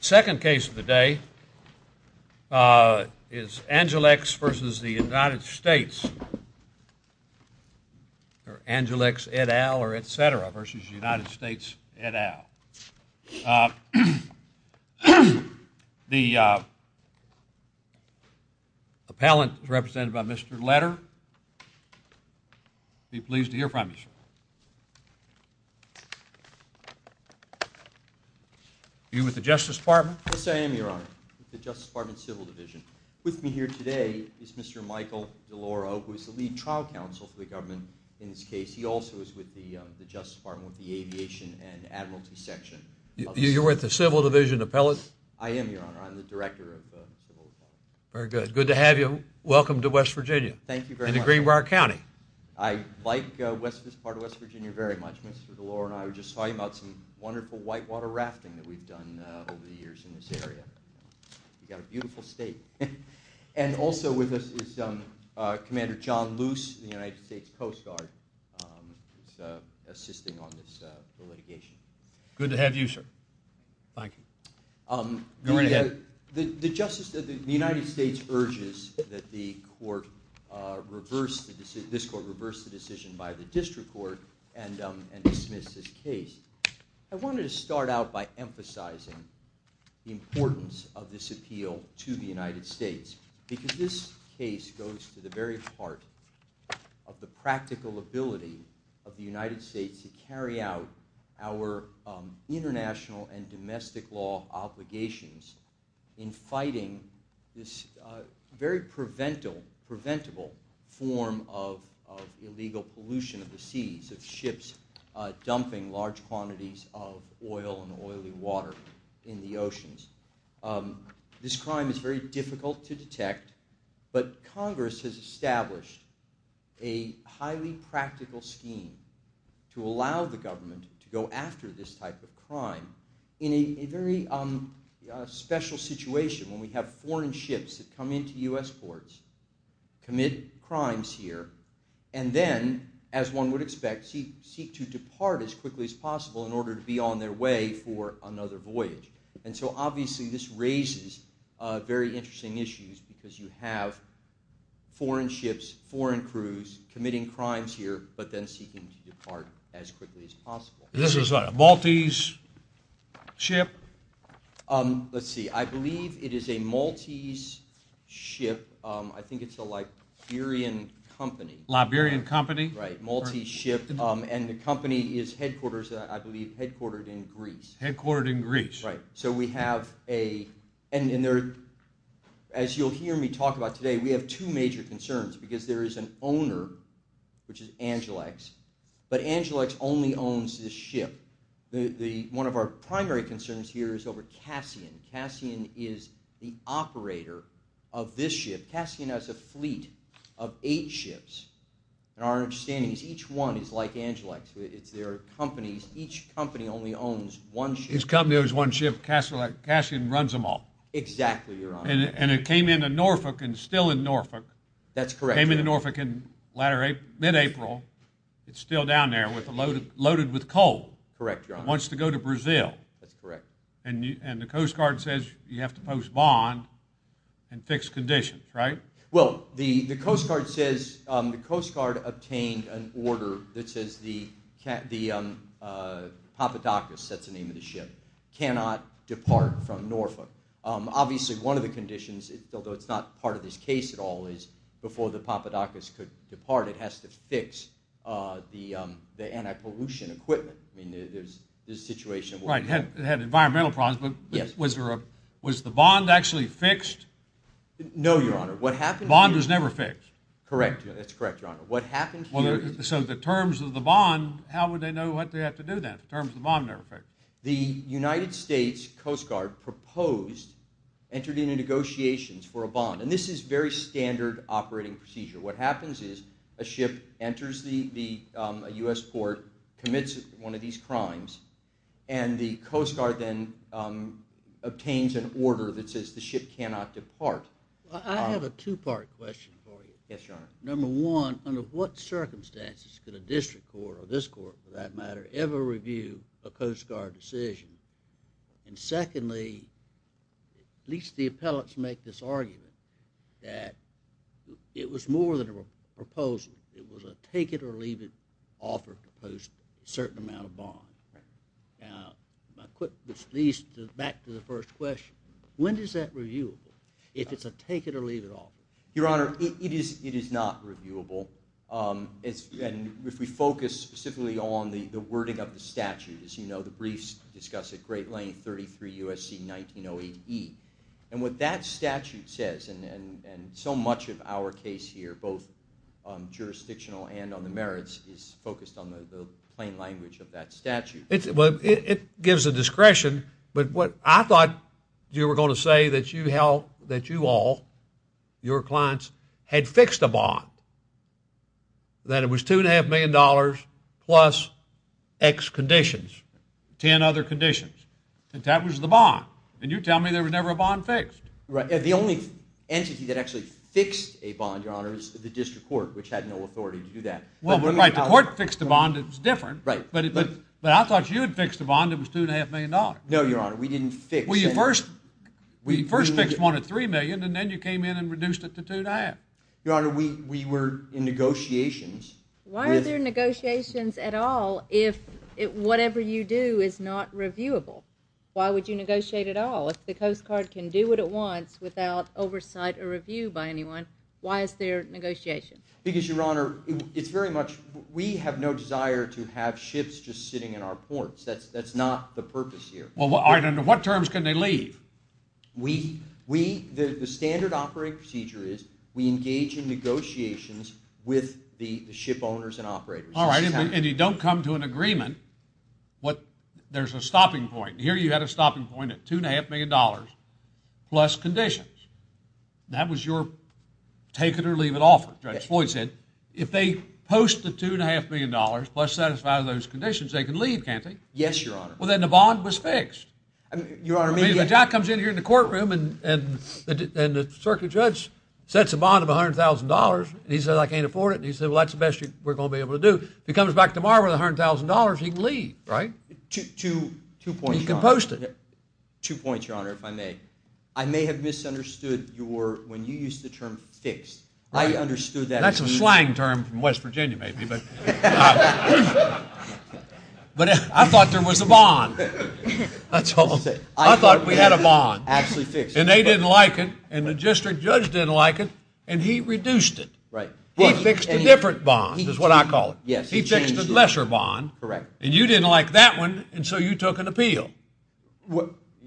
Second case of the day is Angelex v. United States or Angelex et al. v. United States et al. The appellant is represented by Mr. Leder. Be pleased to hear from you, sir. Are you with the Justice Department? Yes, I am, Your Honor, with the Justice Department Civil Division. With me here today is Mr. Michael DeLauro, who is the Lead Trial Counsel for the government in this case. He also is with the Justice Department with the Aviation and Admiralty Section. You're with the Civil Division appellant? I am, Your Honor. I'm the Director of the Civil Division. Very good. Good to have you. Welcome to West Virginia. Thank you very much. And to Greenbrier County. I like this part of West Virginia very much. Mr. DeLauro and I were just talking about some wonderful whitewater rafting that we've done over the years in this area. We've got a beautiful state. And also with us is Commander John Luce, the United Thank you. Go right ahead. The United States urges that this court reverse the decision by the District Court and dismiss this case. I wanted to start out by emphasizing the importance of this appeal to the United States, because this case goes to the very heart of the practical ability of the United States to carry out our international and domestic law obligations in fighting this very preventable form of illegal pollution of the seas, of ships dumping large quantities of oil and oily water in the oceans. This crime is very difficult to do in a practical scheme to allow the government to go after this type of crime in a very special situation when we have foreign ships that come into U.S. ports, commit crimes here, and then, as one would expect, seek to depart as quickly as possible in order to be on their way for another voyage. And so obviously this raises very interesting issues because you have foreign ships, foreign crews committing crimes here, but then seeking to depart as quickly as possible. This is a Maltese ship? Let's see. I believe it is a Maltese ship. I think it's a Liberian company. Liberian company? Right. Maltese ship. And the company is headquarters, I believe, headquartered in Greece. Headquartered in Greece. Right. So we have a, and as you'll hear me talk about today, we have two major concerns because there is an owner, which is Angelex, but Angelex only owns this ship. One of our primary concerns here is over Cassian. Cassian is the operator of this ship. Cassian has a fleet of eight ships. And our understanding is each one is like Angelex. It's their companies. Each company only owns one ship. Each company owns one ship. Cassian runs them all. Exactly, Your Honor. And it came into Norfolk and is still in Norfolk. That's correct. Came into Norfolk in mid-April. It's still down there loaded with coal. Correct, Your Honor. It wants to go to Brazil. That's correct. And the Coast Guard says you have to post bond and fix conditions, right? Well, the Coast Guard says, the Coast Guard obtained an order that says the Papadakis, that's the name of the ship, cannot depart from Norfolk. Obviously, one of the conditions, although it's not part of this case at all, is before the Papadakis could depart, it has to fix the anti-pollution equipment. I mean, there's this situation. Right. It had environmental problems, but was the bond actually fixed? No, Your Honor. The bond was never fixed. Correct. That's correct, Your Honor. So the terms of the bond, how would they know what they had to do then? The terms of the bond never fixed. The United States Coast Guard proposed, entered into negotiations for a bond. And this is very standard operating procedure. What happens is a ship enters a US port, commits one of these crimes, and the Coast Guard then obtains an order that says the ship cannot depart. I have a two-part question for you. Yes, Your Honor. Number one, under what circumstances could a district court, or this court for that matter, ever review a Coast Guard decision? And secondly, at least the appellates make this argument that it was more than a proposal. It was a take-it-or-leave-it offer to post a certain amount of bond. Now, which leads back to the first question. When is that reviewable? If it's a take-it-or-leave-it offer? Your Honor, it is not reviewable. And if we focus specifically on the wording of the statute, as you know, the briefs discuss it, Great Lane 33 U.S.C. 1908E. And what that statute says, and so much of our case here, both jurisdictional and on the merits, is focused on the plain language of that statute. It gives a discretion, but I thought you were going to say that you all, your clients, had fixed a bond. That it was $2.5 million plus X conditions. Ten other conditions. And that was the bond. And you tell me there was never a bond fixed. The only entity that actually fixed a bond, Your Honor, is the district court, which had no authority to do that. Well, right, the court fixed the bond, it was different. But I thought you had fixed a bond that was $2.5 million. No, Your Honor, we didn't fix it. Well, you first fixed one at $3 million, and then you came in and reduced it to 2.5. Your Honor, we were in negotiations. Why are there negotiations at all if whatever you do is not reviewable? Why would you negotiate at all if the Coast Guard can do what it wants without oversight or review by anyone? Why is there negotiation? Because, Your Honor, it's very much, we have no desire to have ships just sitting in our ports. That's not the purpose here. Well, what terms can they leave? We, the standard operating procedure is we engage in negotiations with the ship owners and operators. All right, and you don't come to an agreement. There's a stopping point. Here you had a stopping point at $2.5 million plus conditions. That was your take-it-or-leave-it offer, Judge Floyd said. If they post the $2.5 million plus satisfy those conditions, they can leave, can't they? Yes, Your Honor. Well, then the bond was fixed. I mean, Your Honor, I mean, Jack comes in here in the courtroom and the circuit judge sets a bond of $100,000, and he says, I can't afford it. And he said, well, that's the best we're going to be able to do. If he comes back tomorrow with $100,000, he can leave, right? Two points, Your Honor. He can post it. Two points, Your Honor, if I may. I may have misunderstood your, when you used the term fixed. I understood that. That's a slang term from West Virginia, maybe. But I thought there was a bond. I thought we had a bond. Absolutely fixed. And they didn't like it, and the district judge didn't like it, and he reduced it. He fixed a different bond, is what I call it. He fixed a lesser bond. Correct. And you didn't like that one, and so you took an appeal.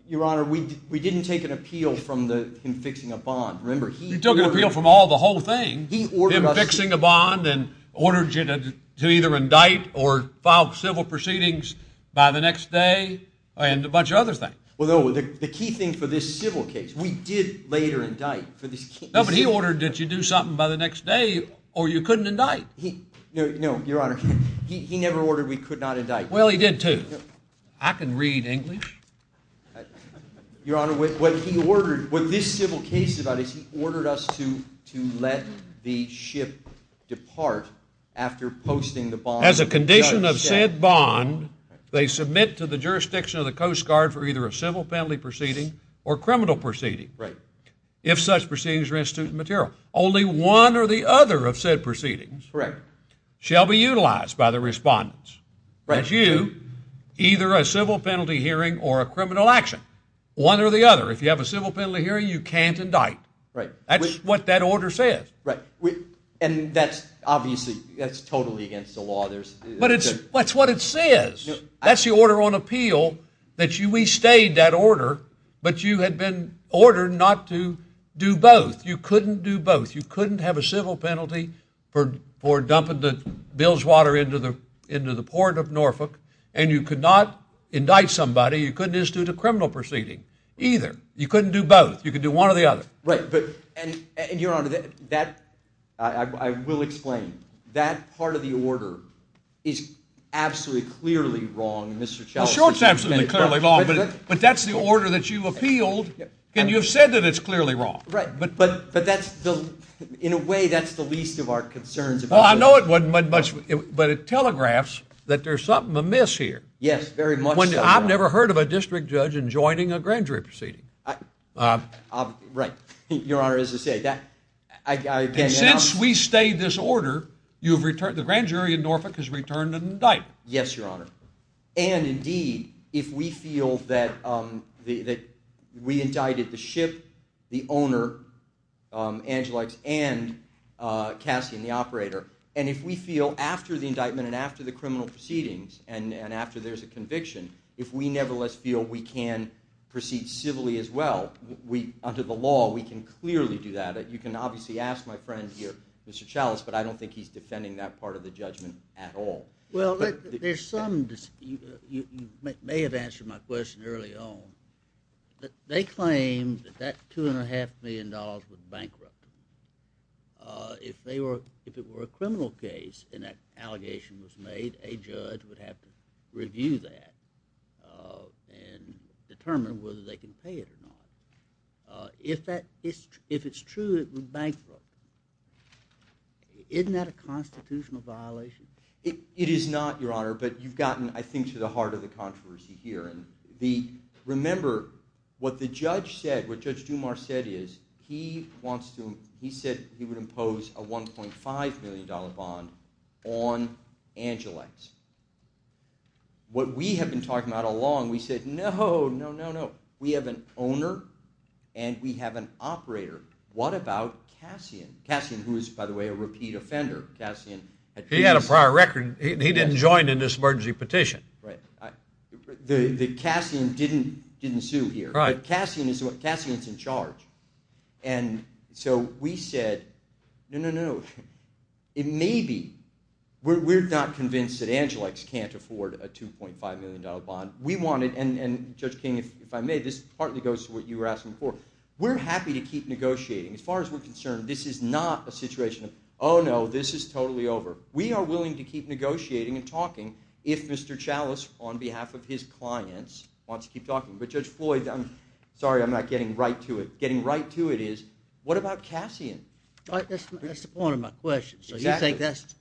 Your Honor, we didn't take an appeal from him fixing a bond. Remember, he ordered us to. You took an appeal from all the whole thing. Him fixing a bond and ordered you to either indict or file civil proceedings by the next day and a bunch of other things. Well, no, the key thing for this civil case, we did later indict for this case. No, but he ordered that you do something by the next day, or you couldn't indict. No, Your Honor, he never ordered we could not indict. Well, he did, too. I can read English. Your Honor, what he ordered, what this civil case is about is he ordered us to let the ship depart after posting the bond. As a condition of said bond, they submit to the jurisdiction of the Coast Guard for either a civil penalty proceeding or criminal proceeding, if such proceedings are instant material. Only one or the other of said proceedings shall be utilized by the respondents. That's you, either a civil penalty hearing or a criminal action, one or the other. If you have a civil penalty hearing, you can't indict. That's what that order says. And that's obviously, that's totally against the law. That's what it says. That's the order on appeal, that we stayed that order, but you had been ordered not to do both. You couldn't do both. You couldn't have a civil penalty for dumping the bilge water into the port of Norfolk, and you could not indict somebody. You couldn't institute a criminal proceeding, either. You couldn't do both. You could do one or the other. Right, but, and Your Honor, that, I will explain. That part of the order is absolutely, clearly wrong, and Mr. Chalmers... Sure, it's absolutely, clearly wrong, but that's the order that you appealed, and you've said that it's clearly wrong. Right, but that's the, in a way, that's the least of our concerns. Well, I know it wasn't much, but it telegraphs that there's something amiss here. Yes, very much so. I've never heard of a district judge enjoining a grand jury proceeding. Right, Your Honor, as I say, that, I can't... Since we stayed this order, you've returned, the grand jury in Norfolk has returned an indictment. Yes, Your Honor, and indeed, if we feel that we indicted the ship, the owner, Angelides, and Cassian, the operator, and if we feel after the indictment, and after the criminal proceedings, and after there's a conviction, if we nevertheless feel we can proceed civilly as well, under the law, we can clearly do that. You can obviously ask my friend here, Mr. Chalmers, but I don't think he's defending that part of the judgment at all. Well, there's some, you may have answered my question early on, but they claim that that two and a half million dollars was bankrupt. If they were, if it were a criminal case, and that allegation was made, a judge would have to review that and determine whether they can pay it or not. If that, if it's true it was bankrupt, isn't that a constitutional violation? It is not, Your Honor, but you've gotten, I think, to the heart of the controversy here. Remember, what the judge said, what Judge Dumas said is, he wants to, he said he would impose a 1.5 million dollar bond on Angelides. What we have been talking about all along, we said, no, no, no, no. We have an owner, and we have an operator. What about Cassian? Cassian, who is, by the way, a repeat offender. He had a prior record, he didn't join in this emergency petition. The Cassian didn't sue here, but Cassian is in charge, and so we said, no, no, no. It may be, we're not convinced that Angelides can't afford a 2.5 million dollar bond. We wanted, and Judge King, if I may, this partly goes to what you were asking before, we're happy to keep negotiating. As far as we're concerned, this is not a situation of, oh no, this is totally over. We are willing to keep negotiating and talking, if Mr. Chalice, on behalf of his clients, wants to keep talking. But Judge Floyd, I'm sorry, I'm not getting right to it. Getting right to it is, what about Cassian? Right, that's the point of my question. So you think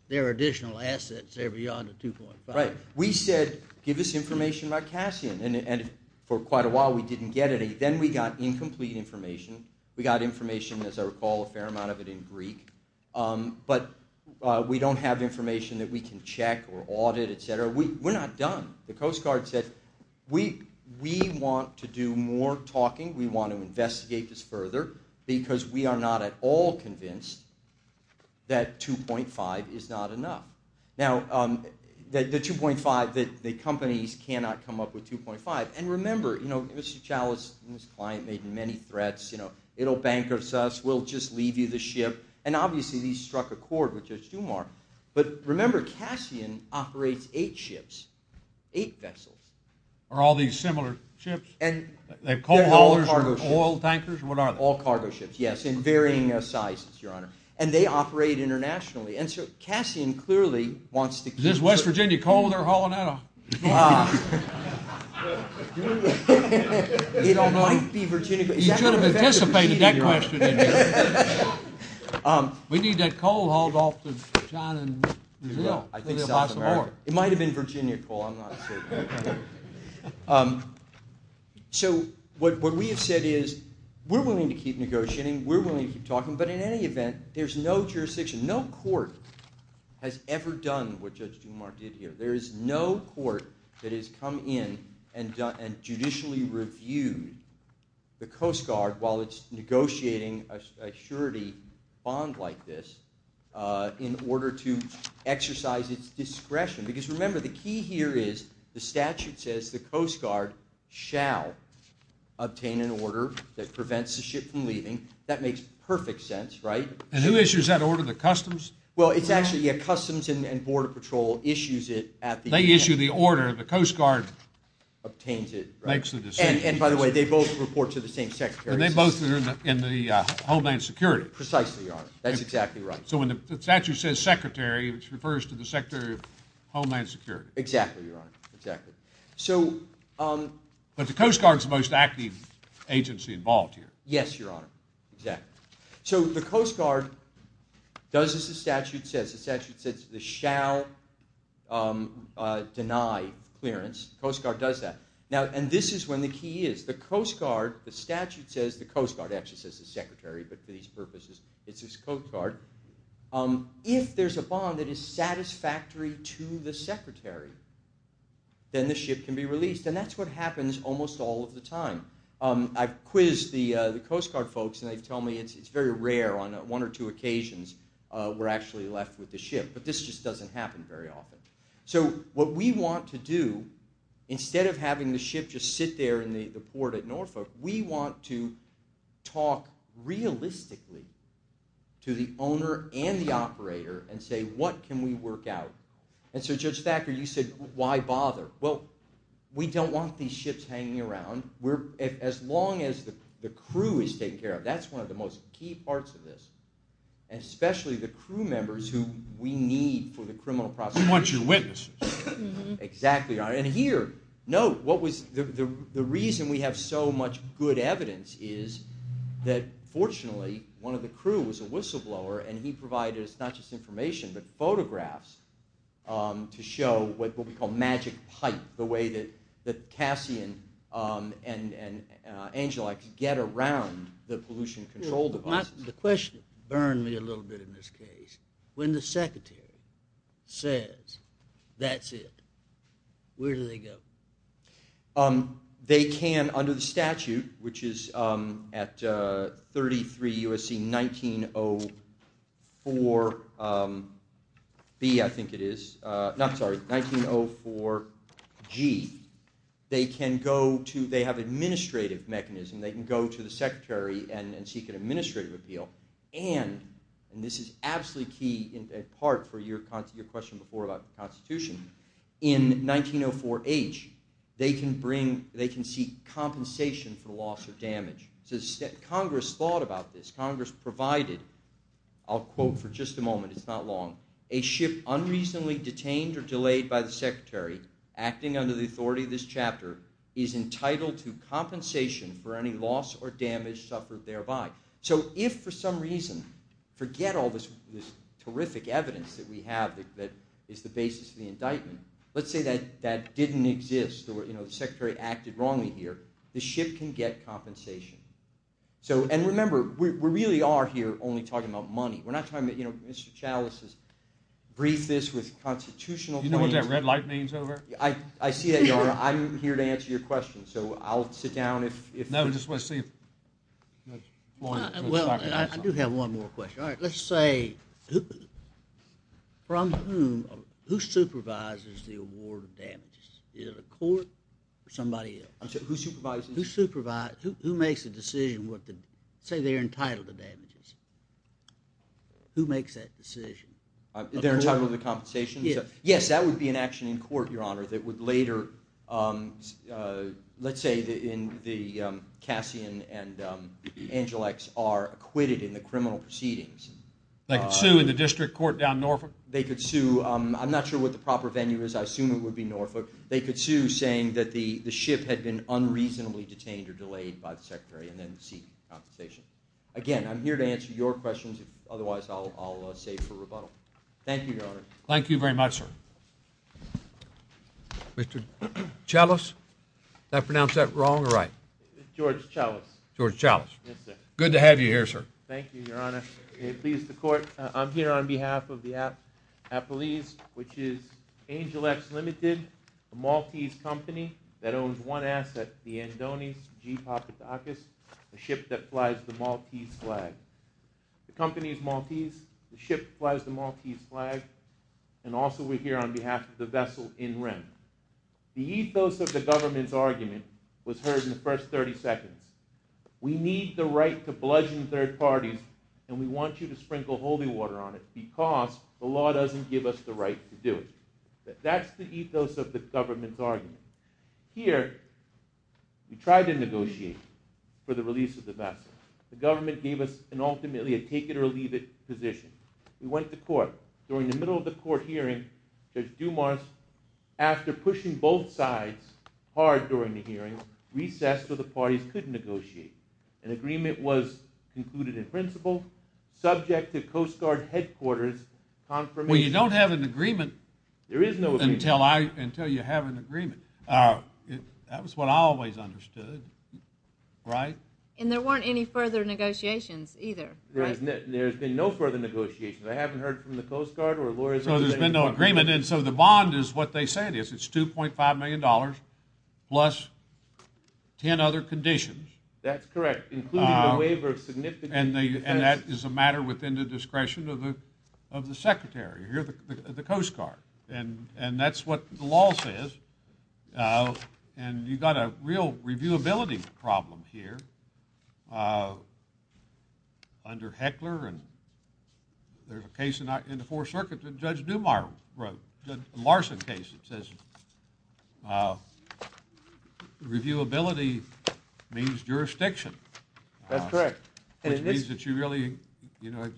there are additional assets there beyond the 2.5? Right. We said, give us information about Cassian, and for quite a while we didn't get any. Then we got incomplete information. We got information, as I recall, a fair amount of it in Greek. But we don't have information that we can check or audit, etc. We're not done. The Coast Guard said, we want to do more talking, we want to investigate this further, because we are not at all convinced that 2.5 is not enough. Now, the 2.5, the companies cannot come up with 2.5. And remember, Mr. Chalice and his client made many threats. It'll bankrupt us. We'll just leave you the ship. And obviously, these struck a chord with Judge Dumas. But remember, Cassian operates eight ships, eight vessels. Are all these similar ships? And they're coal haulers or oil tankers? What are they? All cargo ships, yes, in varying sizes, Your Honor. And they operate internationally. And so Cassian clearly wants to keep talking. Is this West Virginia coal they're hauling out of? It might be Virginia coal. You should have anticipated that question, didn't you? We need that coal hauled off to China and New Zealand. I think South America. It might have been Virginia coal. I'm not certain. So what we have said is, we're willing to keep negotiating. We're willing to keep talking. But in any event, there's no jurisdiction, no court has ever done what Judge Dumas did here. There is no court that has come in and judicially reviewed the Coast Guard while it's negotiating a surety bond like this in order to exercise its discretion. Because remember, the key here is, the statute says the Coast Guard shall obtain an order that prevents the ship from leaving. That makes perfect sense, right? And who issues that order? The Customs? Well, it's actually Customs and Border Patrol issues it at the end. They issue the order. The Coast Guard obtains it. Makes the decision. And by the way, they both report to the same Secretary. They both are in the Homeland Security. Precisely, Your Honor. That's exactly right. So when the statute says Secretary, it refers to the Secretary of Homeland Security. Exactly, Your Honor. Exactly. But the Coast Guard's the most active agency involved here. Yes, Your Honor. Exactly. So the Coast Guard does as the statute says. The statute says the shall deny clearance. Coast Guard does that. Now, and this is when the key is. The Coast Guard, the statute says, the Coast Guard actually says the Secretary. But for these purposes, it's the Coast Guard. If there's a bond that is satisfactory to the Secretary, then the ship can be released. And that's what happens almost all of the time. I've quizzed the Coast Guard folks. And they tell me it's very rare on one or two occasions we're actually left with the ship. But this just doesn't happen very often. So what we want to do, instead of having the ship just sit there in the port at Norfolk, we want to talk realistically to the owner and the operator and say, what can we work out? And so, Judge Thacker, you said, why bother? Well, we don't want these ships hanging around. As long as the crew is taken care of. That's one of the most key parts of this. And especially the crew members who we need for the criminal prosecution. We want your witnesses. Exactly, Your Honor. And here, note, the reason we have so much good evidence is that, fortunately, one of the crew was a whistleblower. And he provided us not just information, but photographs to show what we call magic pipe, the way that Cassian and Angelike get around the pollution control devices. The question burned me a little bit in this case. When the secretary says, that's it, where do they go? They can, under the statute, which is at 33 U.S.C. 1904 B, I think it is. Not, sorry, 1904 G. They can go to, they have administrative mechanism. They can go to the secretary and seek an administrative appeal. And, and this is absolutely key in part for your question before about the Constitution. In 1904 H, they can bring, they can seek compensation for the loss of damage. So Congress thought about this. Congress provided, I'll quote for just a moment, it's not long. A ship unreasonably detained or delayed by the secretary, acting under the authority of this chapter, is entitled to compensation for any loss or damage suffered thereby. So if for some reason, forget all this, this terrific evidence that we have that is the basis of the indictment, let's say that, that didn't exist or, you know, the secretary acted wrongly here, the ship can get compensation. So, and remember, we really are here only talking about money. We're not talking about, you know, Mr. Chalice has briefed this with constitutional. You know what that red light means over? I, I see that, Your Honor. I'm here to answer your question. So I'll sit down if, if. No, just want to see if. Well, I do have one more question. All right. Let's say, from whom, who supervises the award of damages? Is it a court or somebody else? Who supervises? Who supervise, who makes the decision what the, say they're entitled to damages. Who makes that decision? They're entitled to compensation. Yes, that would be an action in court, Your Honor, that would later, let's say in the Cassian and Angelix are acquitted in the criminal proceedings. They could sue in the district court down Norfolk? They could sue. I'm not sure what the proper venue is. I assume it would be Norfolk. They could sue saying that the ship had been unreasonably detained or delayed by the secretary and then seek compensation. Again, I'm here to answer your questions. Otherwise, I'll, I'll say for rebuttal. Thank you, Your Honor. Thank you very much, sir. Mr. Chalice, did I pronounce that wrong or right? George Chalice. George Chalice. Yes, sir. Good to have you here, sir. Thank you, Your Honor. It pleases the court. I'm here on behalf of the Appalese, which is Angelix Limited, a Maltese company that flies the Maltese flag. The company is Maltese. The ship flies the Maltese flag. And also, we're here on behalf of the vessel, In Rim. The ethos of the government's argument was heard in the first 30 seconds. We need the right to bludgeon third parties and we want you to sprinkle holy water on it because the law doesn't give us the right to do it. That's the ethos of the government's argument. Here, we tried to negotiate for the release of the vessel. The government gave us an ultimately a take-it-or-leave-it position. We went to court. During the middle of the court hearing, Judge Dumas, after pushing both sides hard during the hearing, recessed so the parties couldn't negotiate. An agreement was concluded in principle, subject to Coast Guard headquarters confirmation. That was what I always understood, right? And there weren't any further negotiations either, right? There's been no further negotiations. I haven't heard from the Coast Guard or lawyers. So there's been no agreement. And so the bond is what they said is. It's $2.5 million plus 10 other conditions. That's correct, including the waiver of significant defense. And that is a matter within the discretion of the Secretary here, the Coast Guard. And that's what the law says. And you've got a real reviewability problem here under Heckler. And there's a case in the Fourth Circuit that Judge Dumas wrote, a Larson case that says reviewability means jurisdiction. That's correct. Which means that you really, you know,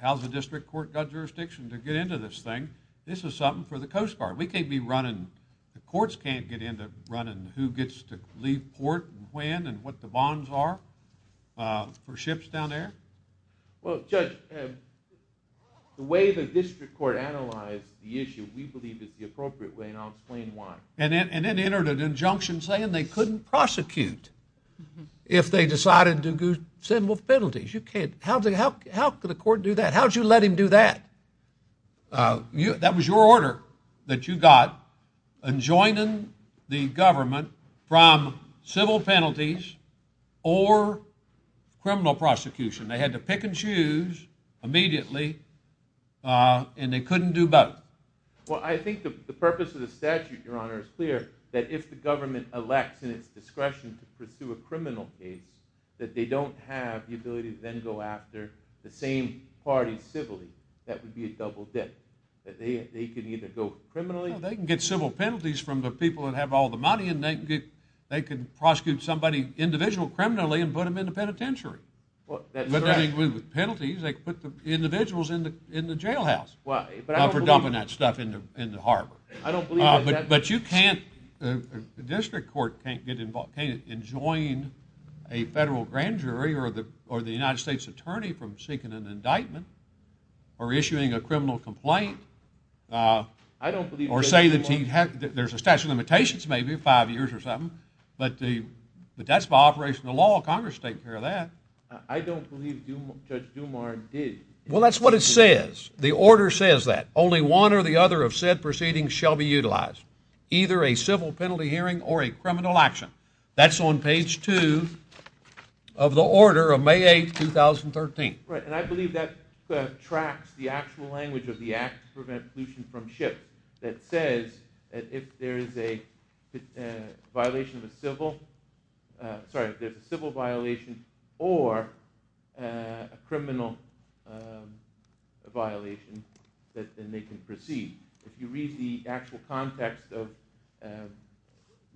how's the district court got jurisdiction to get into this thing? This is something for the Coast Guard. We can't be running, the courts can't get into running who gets to leave port and when and what the bonds are for ships down there. Well, Judge, the way the district court analyzed the issue, we believe is the appropriate way and I'll explain why. And then entered an injunction saying they couldn't prosecute if they decided to do simple penalties. You can't, how could the court do that? How'd you let him do that? That was your order that you got, enjoining the government from civil penalties or criminal prosecution. They had to pick and choose immediately and they couldn't do both. Well, I think the purpose of the statute, Your Honor, is clear that if the government elects in its discretion to pursue a criminal case, that they don't have the ability to go after the same party civilly. That would be a double dip. That they can either go criminally. They can get civil penalties from the people that have all the money and they can get, they can prosecute somebody individual criminally and put them in the penitentiary. Well, that's right. But that includes penalties. They can put the individuals in the jailhouse for dumping that stuff into harbor. I don't believe that. But you can't, the district court can't get involved, can't enjoin a federal grand jury or the United States attorney from seeking an indictment or issuing a criminal complaint or say that there's a statute of limitations maybe, five years or something. But that's by operation of the law. Congress is taking care of that. I don't believe Judge Dumas did. Well, that's what it says. The order says that. Only one or the other of said proceedings shall be utilized. Either a civil penalty hearing or a criminal action. That's on page two of the order of May 8, 2013. Right. And I believe that tracks the actual language of the act to prevent pollution from ship that says that if there is a violation of a civil, sorry, if there's a civil violation or a criminal violation that then they can proceed. If you read the actual context of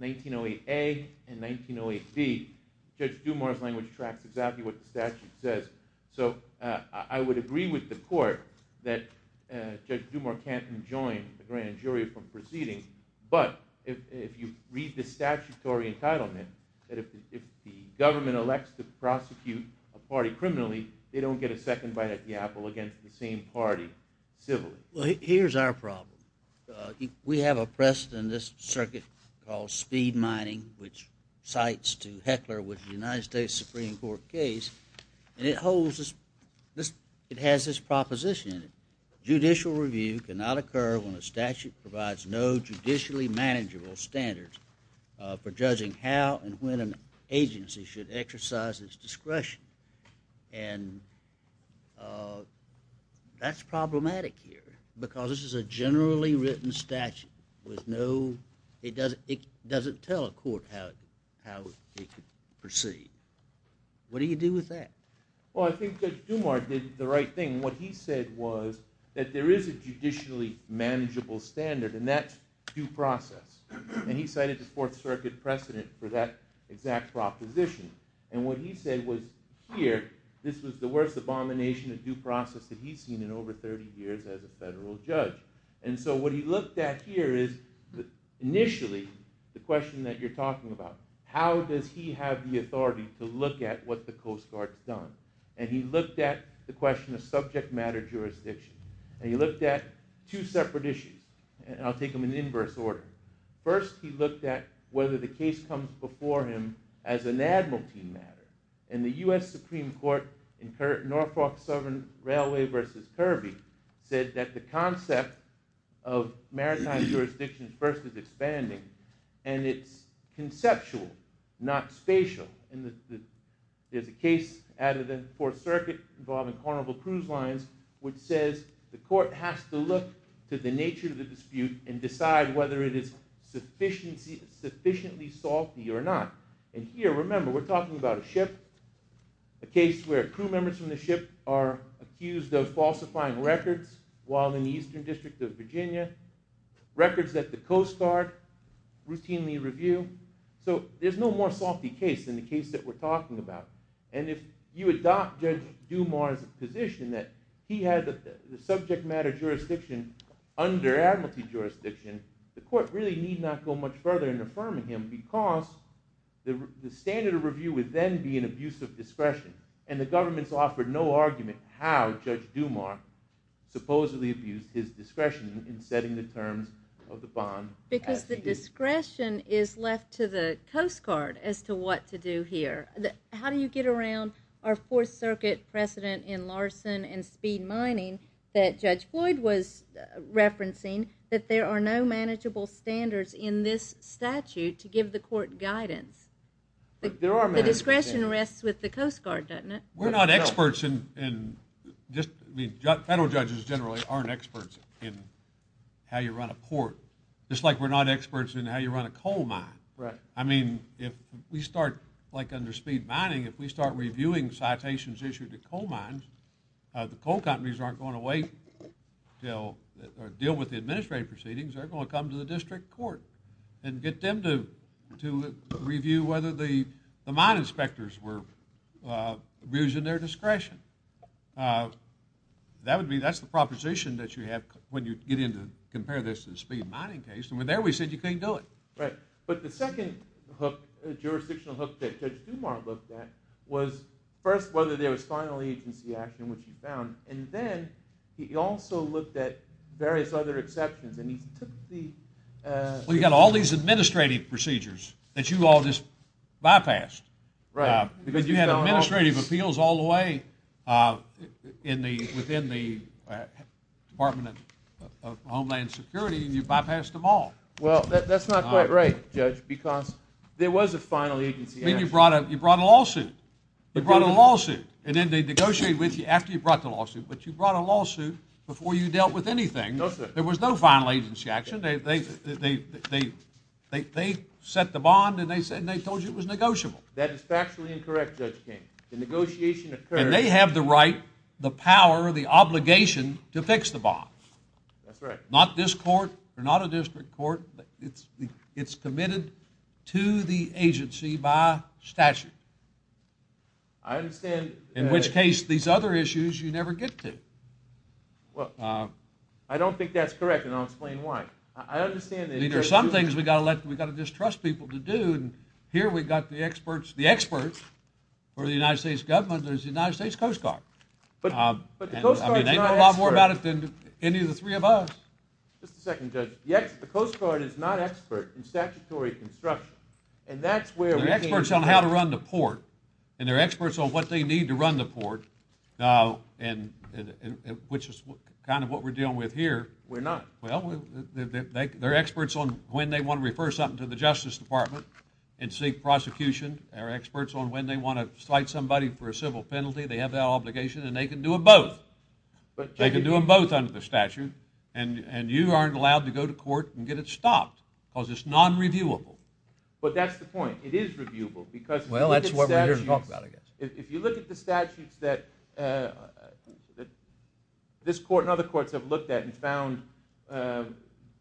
1908A and 1908B, Judge Dumas' language tracks exactly what the statute says. So I would agree with the court that Judge Dumas can't enjoin the grand jury from proceeding. But if you read the statutory entitlement that if the government elects to prosecute a party criminally, they don't get a second bite at the apple against the same party civilly. Here's our problem. We have a precedent in this circuit called speed mining, which cites to Heckler with the United States Supreme Court case. And it has this proposition in it. Judicial review cannot occur when a statute provides no judicially manageable standards for judging how and when an agency should exercise its discretion. And that's problematic here. Because this is a generally written statute with no, it doesn't tell a court how it should proceed. What do you do with that? Well, I think Judge Dumas did the right thing. What he said was that there is a judicially manageable standard and that's due process. And he cited the Fourth Circuit precedent for that exact proposition. And what he said was here, this was the worst abomination of due process that he's seen in over 30 years as a federal judge. And so what he looked at here is initially the question that you're talking about. How does he have the authority to look at what the Coast Guard's done? And he looked at the question of subject matter jurisdiction. And he looked at two separate issues. And I'll take them in inverse order. First, he looked at whether the case comes before him as an admiralty matter. And the U.S. Supreme Court in Norfolk Southern Railway versus Kirby said that the concept of maritime jurisdiction first is expanding and it's conceptual, not spatial. And there's a case out of the Fourth Circuit involving Carnival Cruise Lines which says the court has to look to the nature of the dispute and decide whether it is sufficiently salty or not. And here, remember, we're talking about a ship. A case where crew members from the ship are accused of falsifying records while in the Eastern District of Virginia. Records that the Coast Guard routinely review. So there's no more salty case than the case that we're talking about. And if you adopt Judge Dumas' position that he had the subject matter jurisdiction under admiralty jurisdiction, the court really need not go much further in affirming him because the standard of review would then be an abuse of discretion. And the government's offered no argument how Judge Dumas supposedly abused his discretion in setting the terms of the bond. Because the discretion is left to the Coast Guard as to what to do here. How do you get around our Fourth Circuit precedent in Larson and speed mining that Judge Floyd was referencing, that there are no manageable standards in this statute to give the court guidance? The discretion rests with the Coast Guard, doesn't it? We're not experts in just, I mean, federal judges generally aren't experts in how you run a court. Just like we're not experts in how you run a coal mine. I mean, if we start, like under speed mining, if we start reviewing citations issued to coal mines, the coal companies aren't going to wait till, or deal with the administrative proceedings, they're going to come to the district court and get them to review whether the mine inspectors were abusing their discretion. That would be, that's the proposition that you have when you get in to compare this to the speed mining case. And there we said you can't do it. But the second jurisdictional hook that Judge Dumas looked at was first whether there was final agency action, which he found. And then he also looked at various other exceptions. And he took the... Well, you got all these administrative procedures that you all just bypassed. Because you had administrative appeals all the way within the Department of Homeland Security and you bypassed them all. Well, that's not quite right, Judge. Because there was a final agency action. I mean, you brought a lawsuit. You brought a lawsuit. And then they negotiated with you after you brought the lawsuit. But you brought a lawsuit before you dealt with anything. No, sir. There was no final agency action. They set the bond and they told you it was negotiable. That is factually incorrect, Judge King. The negotiation occurred... And they have the right, the power, the obligation to fix the bond. That's right. Not this court. They're not a district court. It's committed to the agency by statute. I understand... In which case, these other issues you never get to. Well, I don't think that's correct and I'll explain why. I understand that... These are some things we got to let, we got to just trust people to do. And here we got the experts, the experts for the United States government. There's the United States Coast Guard. But the Coast Guard's not an expert. I mean, they know a lot more about it than any of the three of us. Just a second, Judge. Yes, the Coast Guard is not expert in statutory construction. And that's where... They're experts on how to run the port. And they're experts on what they need to run the port. Now, and which is kind of what we're dealing with here. We're not. Well, they're experts on when they want to refer something to the Justice Department and seek prosecution. They're experts on when they want to cite somebody for a civil penalty. They have that obligation and they can do them both. But they can do them both under the statute. And you aren't allowed to go to court and get it stopped because it's non-reviewable. But that's the point. It is reviewable because... Well, that's what we're here to talk about, I guess. If you look at the statutes that this court and other courts have looked at and found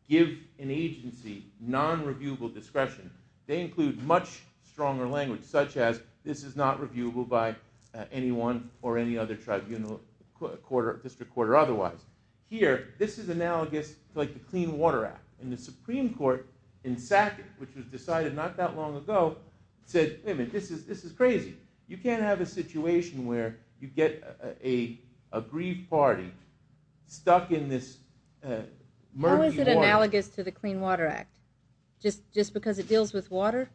give an agency non-reviewable discretion, they include much stronger language such as this is not reviewable by anyone or any other tribunal, district court or otherwise. Here, this is analogous to the Clean Water Act. And the Supreme Court in Sackett, which was decided not that long ago, said, wait a minute, this is crazy. You can't have a situation where you get a grieved party stuck in this murky water... How is it analogous to the Clean Water Act? Just because it deals with water?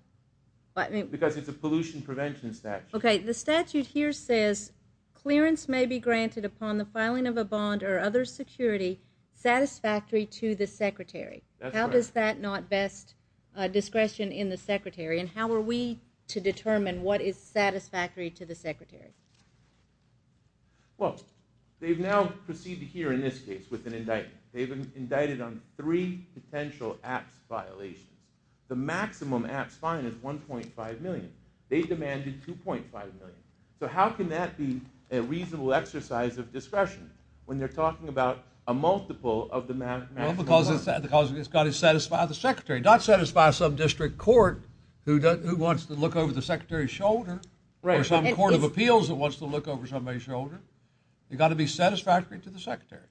Because it's a pollution prevention statute. Okay, the statute here says, clearance may be granted upon the filing of a bond or other security satisfactory to the secretary. How does that not vest discretion in the secretary? And how are we to determine what is satisfactory to the secretary? Well, they've now proceeded here in this case with an indictment. They've been indicted on three potential APPS violations. The maximum APPS fine is $1.5 million. They demanded $2.5 million. So how can that be a reasonable exercise of discretion when they're talking about a multiple of the maximum fine? Because it's got to satisfy the secretary. Not satisfy some district court who wants to look over the secretary's shoulder. Right. Or some court of appeals that wants to look over somebody's shoulder. You've got to be satisfactory to the secretary.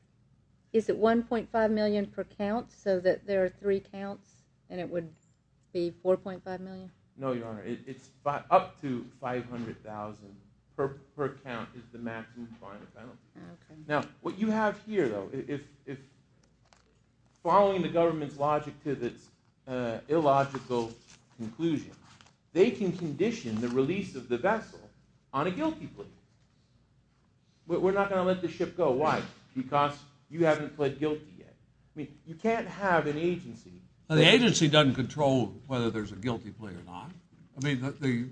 Is it $1.5 million per count so that there are three counts and it would be $4.5 million? No, Your Honor. It's up to $500,000 per count is the maximum final penalty. Now, what you have here, though, if following the government's logic to this illogical conclusion, they can condition the release of the vessel on a guilty plea. We're not going to let the ship go. Why? Because you haven't pled guilty yet. I mean, you can't have an agency. The agency doesn't control whether there's a guilty plea or not. I mean, the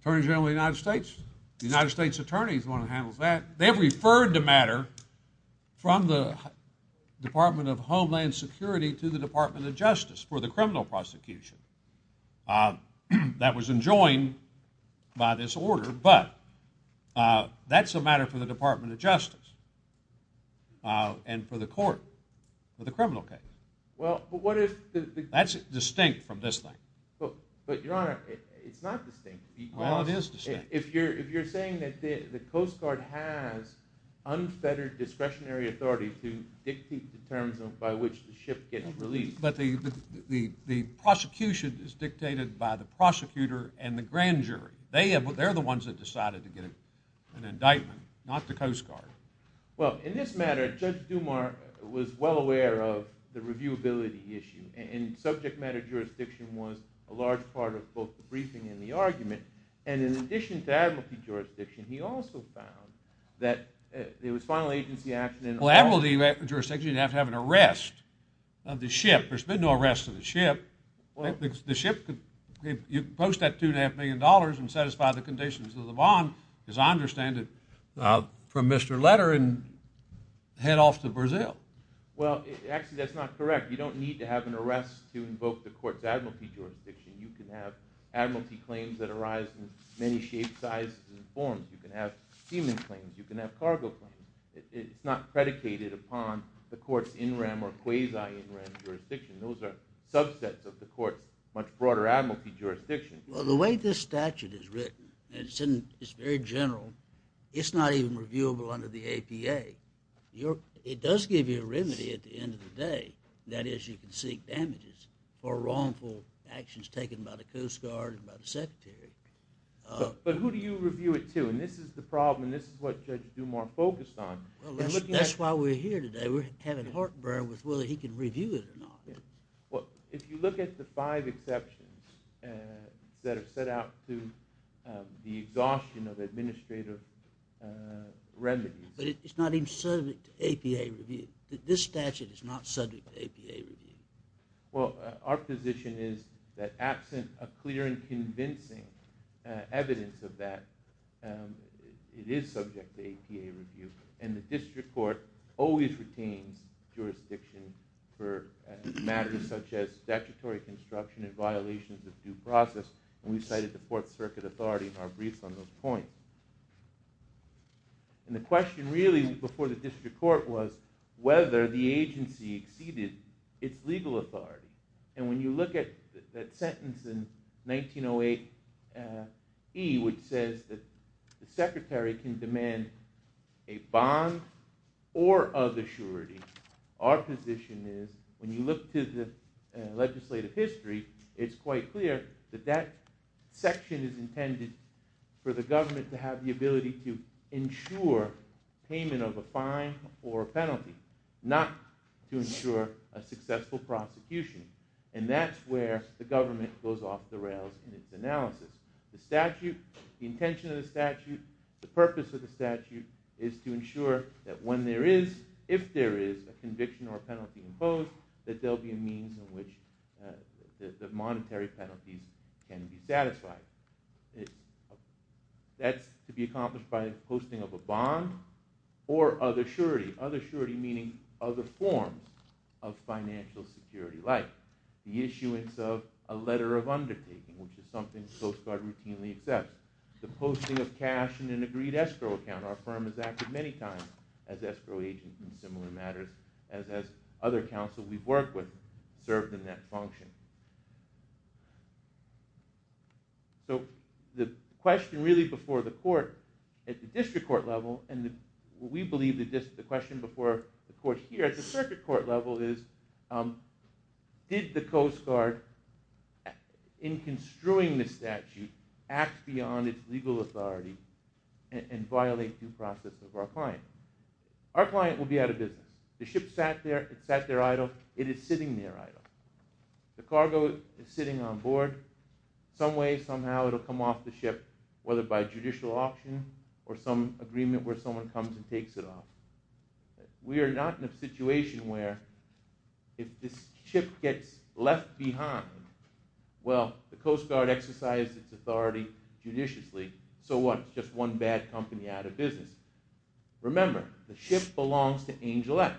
Attorney General of the United States, the United States Attorney is the one that handles that. They've referred the matter from the Department of Homeland Security to the Department of Justice for the criminal prosecution. That was enjoined by this order, but that's a matter for the Department of Justice and for the court for the criminal case. Well, but what if... That's distinct from this thing. But, Your Honor, it's not distinct. Well, it is distinct. If you're saying that the Coast Guard has unfettered discretionary authority to dictate the terms by which the ship gets released... But the prosecution is dictated by the prosecutor and the grand jury. They're the ones that decided to get an indictment, not the Coast Guard. Well, in this matter, Judge Dumar was well aware of the reviewability issue, and subject matter jurisdiction was a large part of both the briefing and the argument. And in addition to advocacy jurisdiction, he also found that there was final agency action... Well, advocacy jurisdiction, you'd have to have an arrest of the ship. There's been no arrest of the ship. The ship could... You post that $2.5 million and satisfy the conditions of the bond, as I understand it, from Mr. Letter, and head off to Brazil. Well, actually, that's not correct. You don't need to have an arrest to invoke the court's advocacy jurisdiction. You can have advocacy claims that arise in many shapes, sizes, and forms. You can have steaming claims. You can have cargo claims. It's not predicated upon the court's NRAM or quasi-NRAM jurisdiction. Those are subsets of the court's much broader advocacy jurisdiction. Well, the way this statute is written, and it's very general, it's not even reviewable under the APA. It does give you a remedy at the end of the day. That is, you can seek damages for wrongful actions taken by the Coast Guard and by the Secretary. But who do you review it to? And this is the problem, and this is what Judge Dumar focused on. Well, that's why we're here today. We're having heartburn with whether he can review it or not. Well, if you look at the five exceptions that are set out to the exhaustion of administrative remedies... But it's not even subject to APA review. This statute is not subject to APA review. Well, our position is that absent a clear and convincing evidence of that, it is subject to APA review. And the district court always retains jurisdiction for matters such as statutory construction and violations of due process. And we cited the Fourth Circuit authority in our briefs on those points. And the question really before the district court was whether the agency exceeded its legal authority. And when you look at that sentence in 1908E, which says that the Secretary can demand a bond or other surety, our position is when you look to the legislative history, it's quite clear that that section is intended for the government to have the ability to ensure payment of a fine or penalty, not to ensure a successful prosecution. And that's where the government goes off the rails in its analysis. The statute, the intention of the statute, the purpose of the statute is to ensure that when there is, if there is a conviction or a penalty imposed, that there'll be a means in which the monetary penalties can be satisfied. That's to be accomplished by posting of a bond or other surety. Other surety meaning other forms of financial security, like the issuance of a letter of undertaking, which is something the Coast Guard routinely accepts. The posting of cash in an agreed escrow account. Our firm has acted many times as escrow agents in similar matters, as has other counsel we've worked with served in that function. So the question really before the court at the district court level, and we believe the question before the court here at the circuit court level is, did the Coast Guard, in construing the statute, act beyond its legal authority and violate due process of our client? Our client will be out of business. The ship sat there, it sat there idle, it is sitting there idle. The cargo is sitting on board. Some way, somehow it'll come off the ship, whether by judicial option or some agreement where someone comes and takes it off. We are not in a situation where if this ship gets left behind, well, the Coast Guard exercised its authority judiciously, so what? Just one bad company out of business. Remember, the ship belongs to Angel X.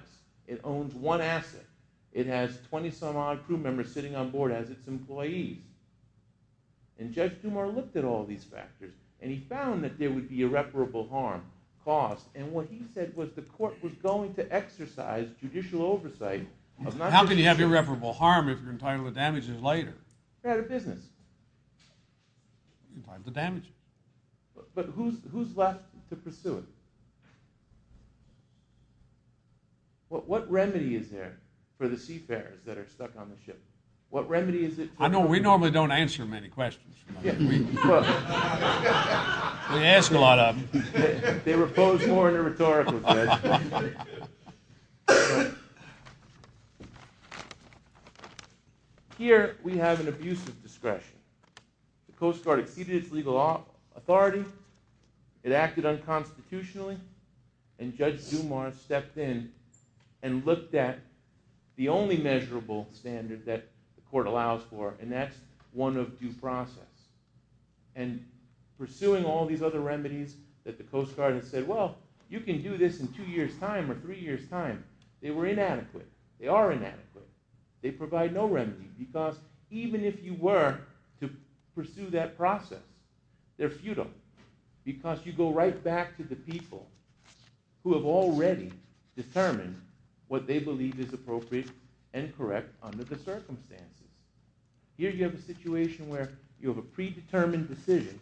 It owns one asset. It has 20 some odd crew members sitting on board as its employees. And Judge Dumas looked at all these factors, and he found that there would be irreparable harm caused. And what he said was the court was going to exercise judicial oversight. How can you have irreparable harm if you're entitled to damages later? They're out of business. Entitled to damages. But who's left to pursue it? What remedy is there for the seafarers that are stuck on the ship? What remedy is it? I know we normally don't answer many questions. Yeah. We ask a lot of them. They were posed more in a rhetorical way. Here, we have an abusive discretion. The Coast Guard exceeded its legal authority. It acted unconstitutionally. And Judge Dumas stepped in and looked at the only measurable standard that the court allows for, and that's one of due process. And pursuing all these other remedies that the Coast Guard has said, well, you can do this in two years' time or three years' time. They were inadequate. They are inadequate. They provide no remedy. Because even if you were to pursue that process, they're futile. Because you go right back to the people who have already determined what they believe is appropriate and correct under the circumstances. Here, you have a situation where you have a predetermined decision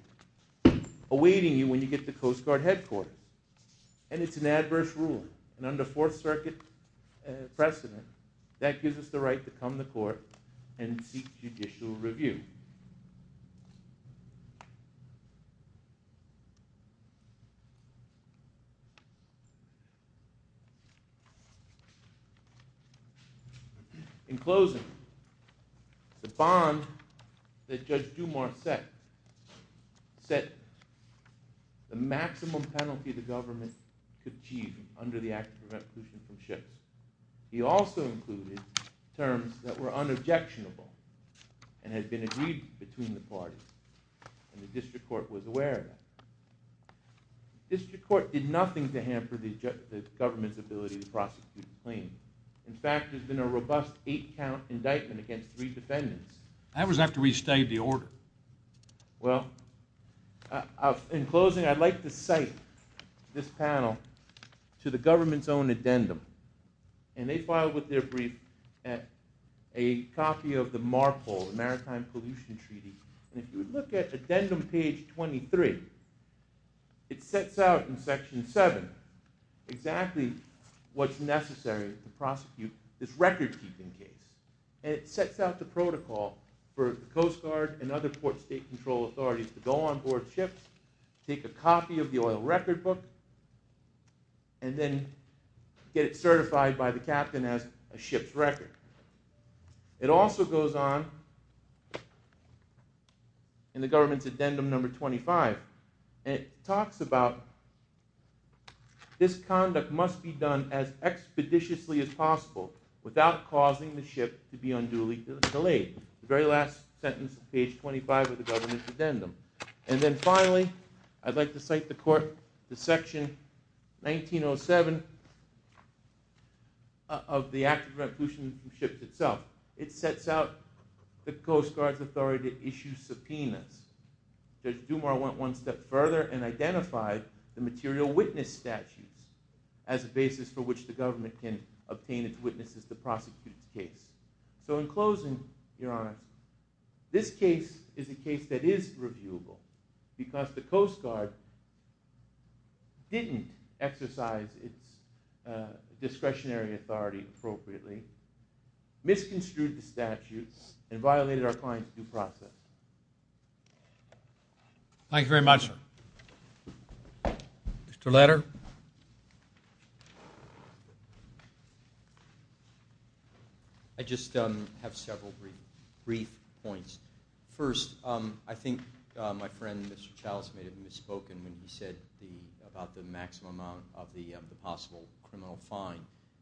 awaiting you when you get to Coast Guard headquarters. And it's an adverse ruling. And under Fourth Circuit precedent, that gives us the right to come to court and seek judicial review. In closing, the bond that Judge Dumas set, set the maximum penalty the government could achieve under the Act of Substitution and Shift. He also included terms that were unobjectionable and had been agreed between the parties. And the District Court was aware of that. District Court did nothing to hamper the government's ability to prosecute the claim. In fact, there's been a robust eight-count indictment against three defendants. That was after we stayed the order. Well, in closing, I'd like to cite this panel to the government's own addendum. And they filed with their brief at a copy of the MARPOL, the Maritime Pollution Treaty. And if you look at addendum page 23, it sets out in section 7 exactly what's necessary to prosecute this record-keeping case. And it sets out the protocol for Coast Guard and other port state control authorities to onboard ships, take a copy of the oil record book, and then get it certified by the captain as a ship's record. It also goes on in the government's addendum number 25. And it talks about this conduct must be done as expeditiously as possible without causing the ship to be unduly delayed. And then finally, I'd like to cite the court to section 1907 of the Act of Revolution from Ships itself. It sets out the Coast Guard's authority to issue subpoenas. Judge Dumas went one step further and identified the material witness statutes as a basis for which the government can obtain its witnesses to prosecute the case. So in closing, Your Honor, this case is a case that is reviewable because the Coast Guard didn't exercise its discretionary authority appropriately, misconstrued the statutes, and violated our client's due process. Thank you very much, sir. Mr. Leder? I just have several brief points. First, I think my friend, Mr. Chalice, may have misspoken when he said about the maximum amount of the possible criminal fine.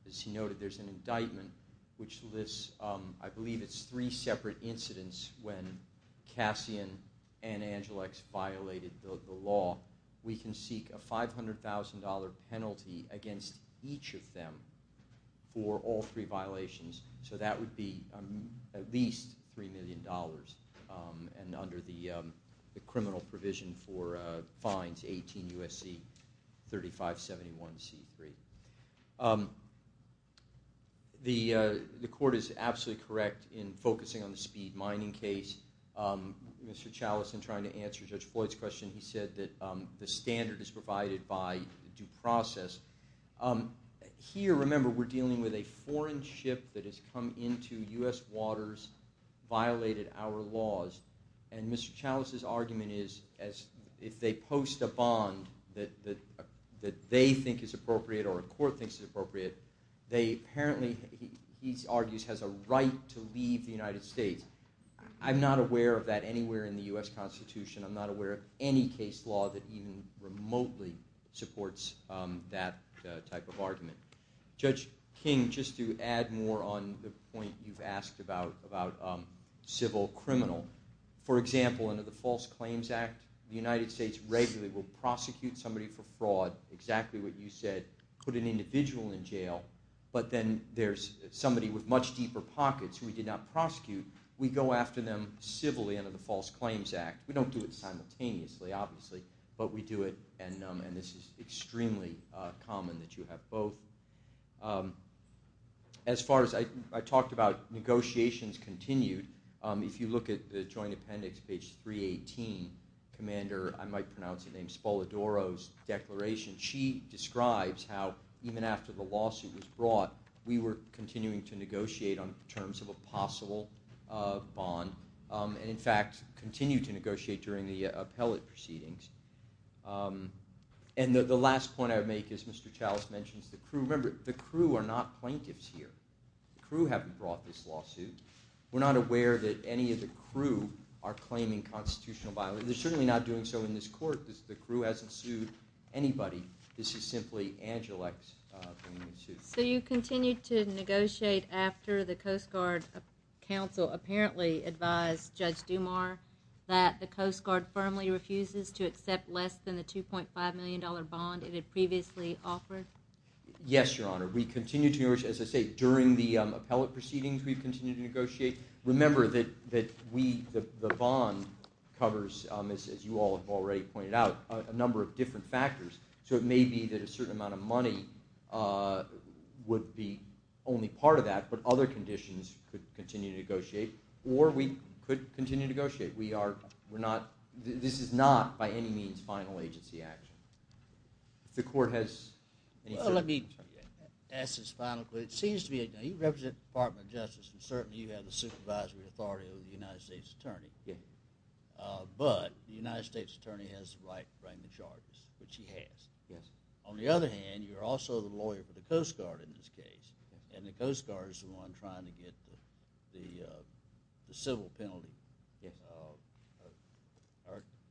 As he noted, there's an indictment which lists, I believe it's three separate incidents when Cassian and Angelix violated the law. We can seek a $500,000 penalty against each of them for all three violations, so that would be at least $3 million, and under the criminal provision for fines, 18 U.S.C. 3571 C3. The court is absolutely correct in focusing on the speed mining case. Mr. Chalice, in trying to answer Judge Floyd's question, he said that the standard is provided by due process. Here, remember, we're dealing with a foreign ship that has come into U.S. waters, violated our laws, and Mr. Chalice's argument is if they post a bond that they think is appropriate or a court thinks is appropriate, they apparently, he argues, has a right to leave the United States. I'm not aware of that anywhere in the U.S. Constitution. I'm not aware of any case law that even remotely supports that type of argument. Judge King, just to add more on the point you've asked about civil criminal, for example, under the False Claims Act, the United States regularly will prosecute somebody for fraud, exactly what you said, put an individual in jail, but then there's somebody with much deeper pockets who we did not prosecute, we go after them civilly under the False Claims Act. We don't do it simultaneously, obviously, but we do it, and this is extremely common that you have both. As far as I talked about, negotiations continued. If you look at the Joint Appendix, page 318, Commander, I might pronounce the name, Spolodoro's declaration, she describes how even after the lawsuit was brought, we were continuing to negotiate on terms of a possible bond, and, in fact, continue to negotiate during the appellate proceedings. And the last point I would make is Mr. Chalice mentions the crew. Remember, the crew are not plaintiffs here. The crew haven't brought this lawsuit. We're not aware that any of the crew are claiming constitutional violence. They're certainly not doing so in this court. The crew hasn't sued anybody. This is simply Angelix bringing the suit. So you continue to negotiate after the Coast Guard Council apparently advised Judge Dumas that the Coast Guard firmly refuses to accept less than the $2.5 million bond it had previously offered? Yes, Your Honor. We continue to negotiate. As I say, during the appellate proceedings, we've continued to negotiate. Remember that the bond covers, as you all have already pointed out, a number of different other conditions could continue to negotiate. Or we could continue to negotiate. This is not, by any means, final agency action. If the court has any further questions. Well, let me ask this final question. It seems to me that you represent the Department of Justice. I'm certain you have the supervisory authority of the United States Attorney. But the United States Attorney has the right to frame the charges, which he has. On the other hand, you're also the lawyer for the Coast Guard in this case. And the Coast Guard is the one trying to get the civil penalty.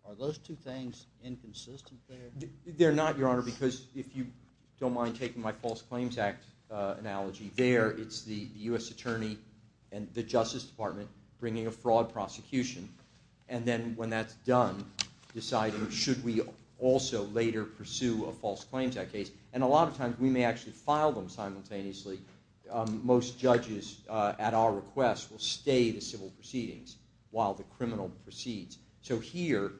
Are those two things inconsistent there? They're not, Your Honor. Because if you don't mind taking my False Claims Act analogy there, it's the U.S. Attorney and the Justice Department bringing a fraud prosecution. And then when that's done, deciding should we also later pursue a False Claims Act case. And a lot of times, we may actually file them simultaneously. Most judges, at our request, will stay the civil proceedings while the criminal proceeds. So here,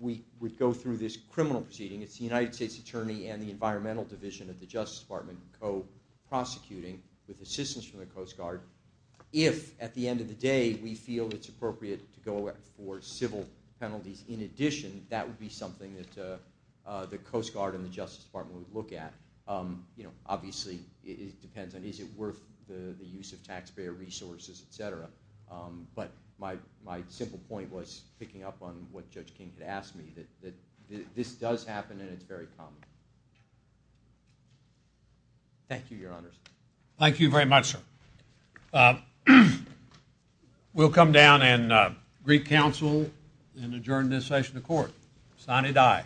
we would go through this criminal proceeding. It's the United States Attorney and the Environmental Division of the Justice Department co-prosecuting with assistance from the Coast Guard. If, at the end of the day, we feel it's appropriate to go for civil penalties in addition, that would be something that the Coast Guard and the Justice Department would look at. You know, obviously, it depends on is it worth the use of taxpayer resources, et cetera. But my simple point was, picking up on what Judge King had asked me, that this does happen and it's very common. Thank you, Your Honors. Thank you very much, sir. We'll come down and greet counsel and adjourn this session of court. Sine die.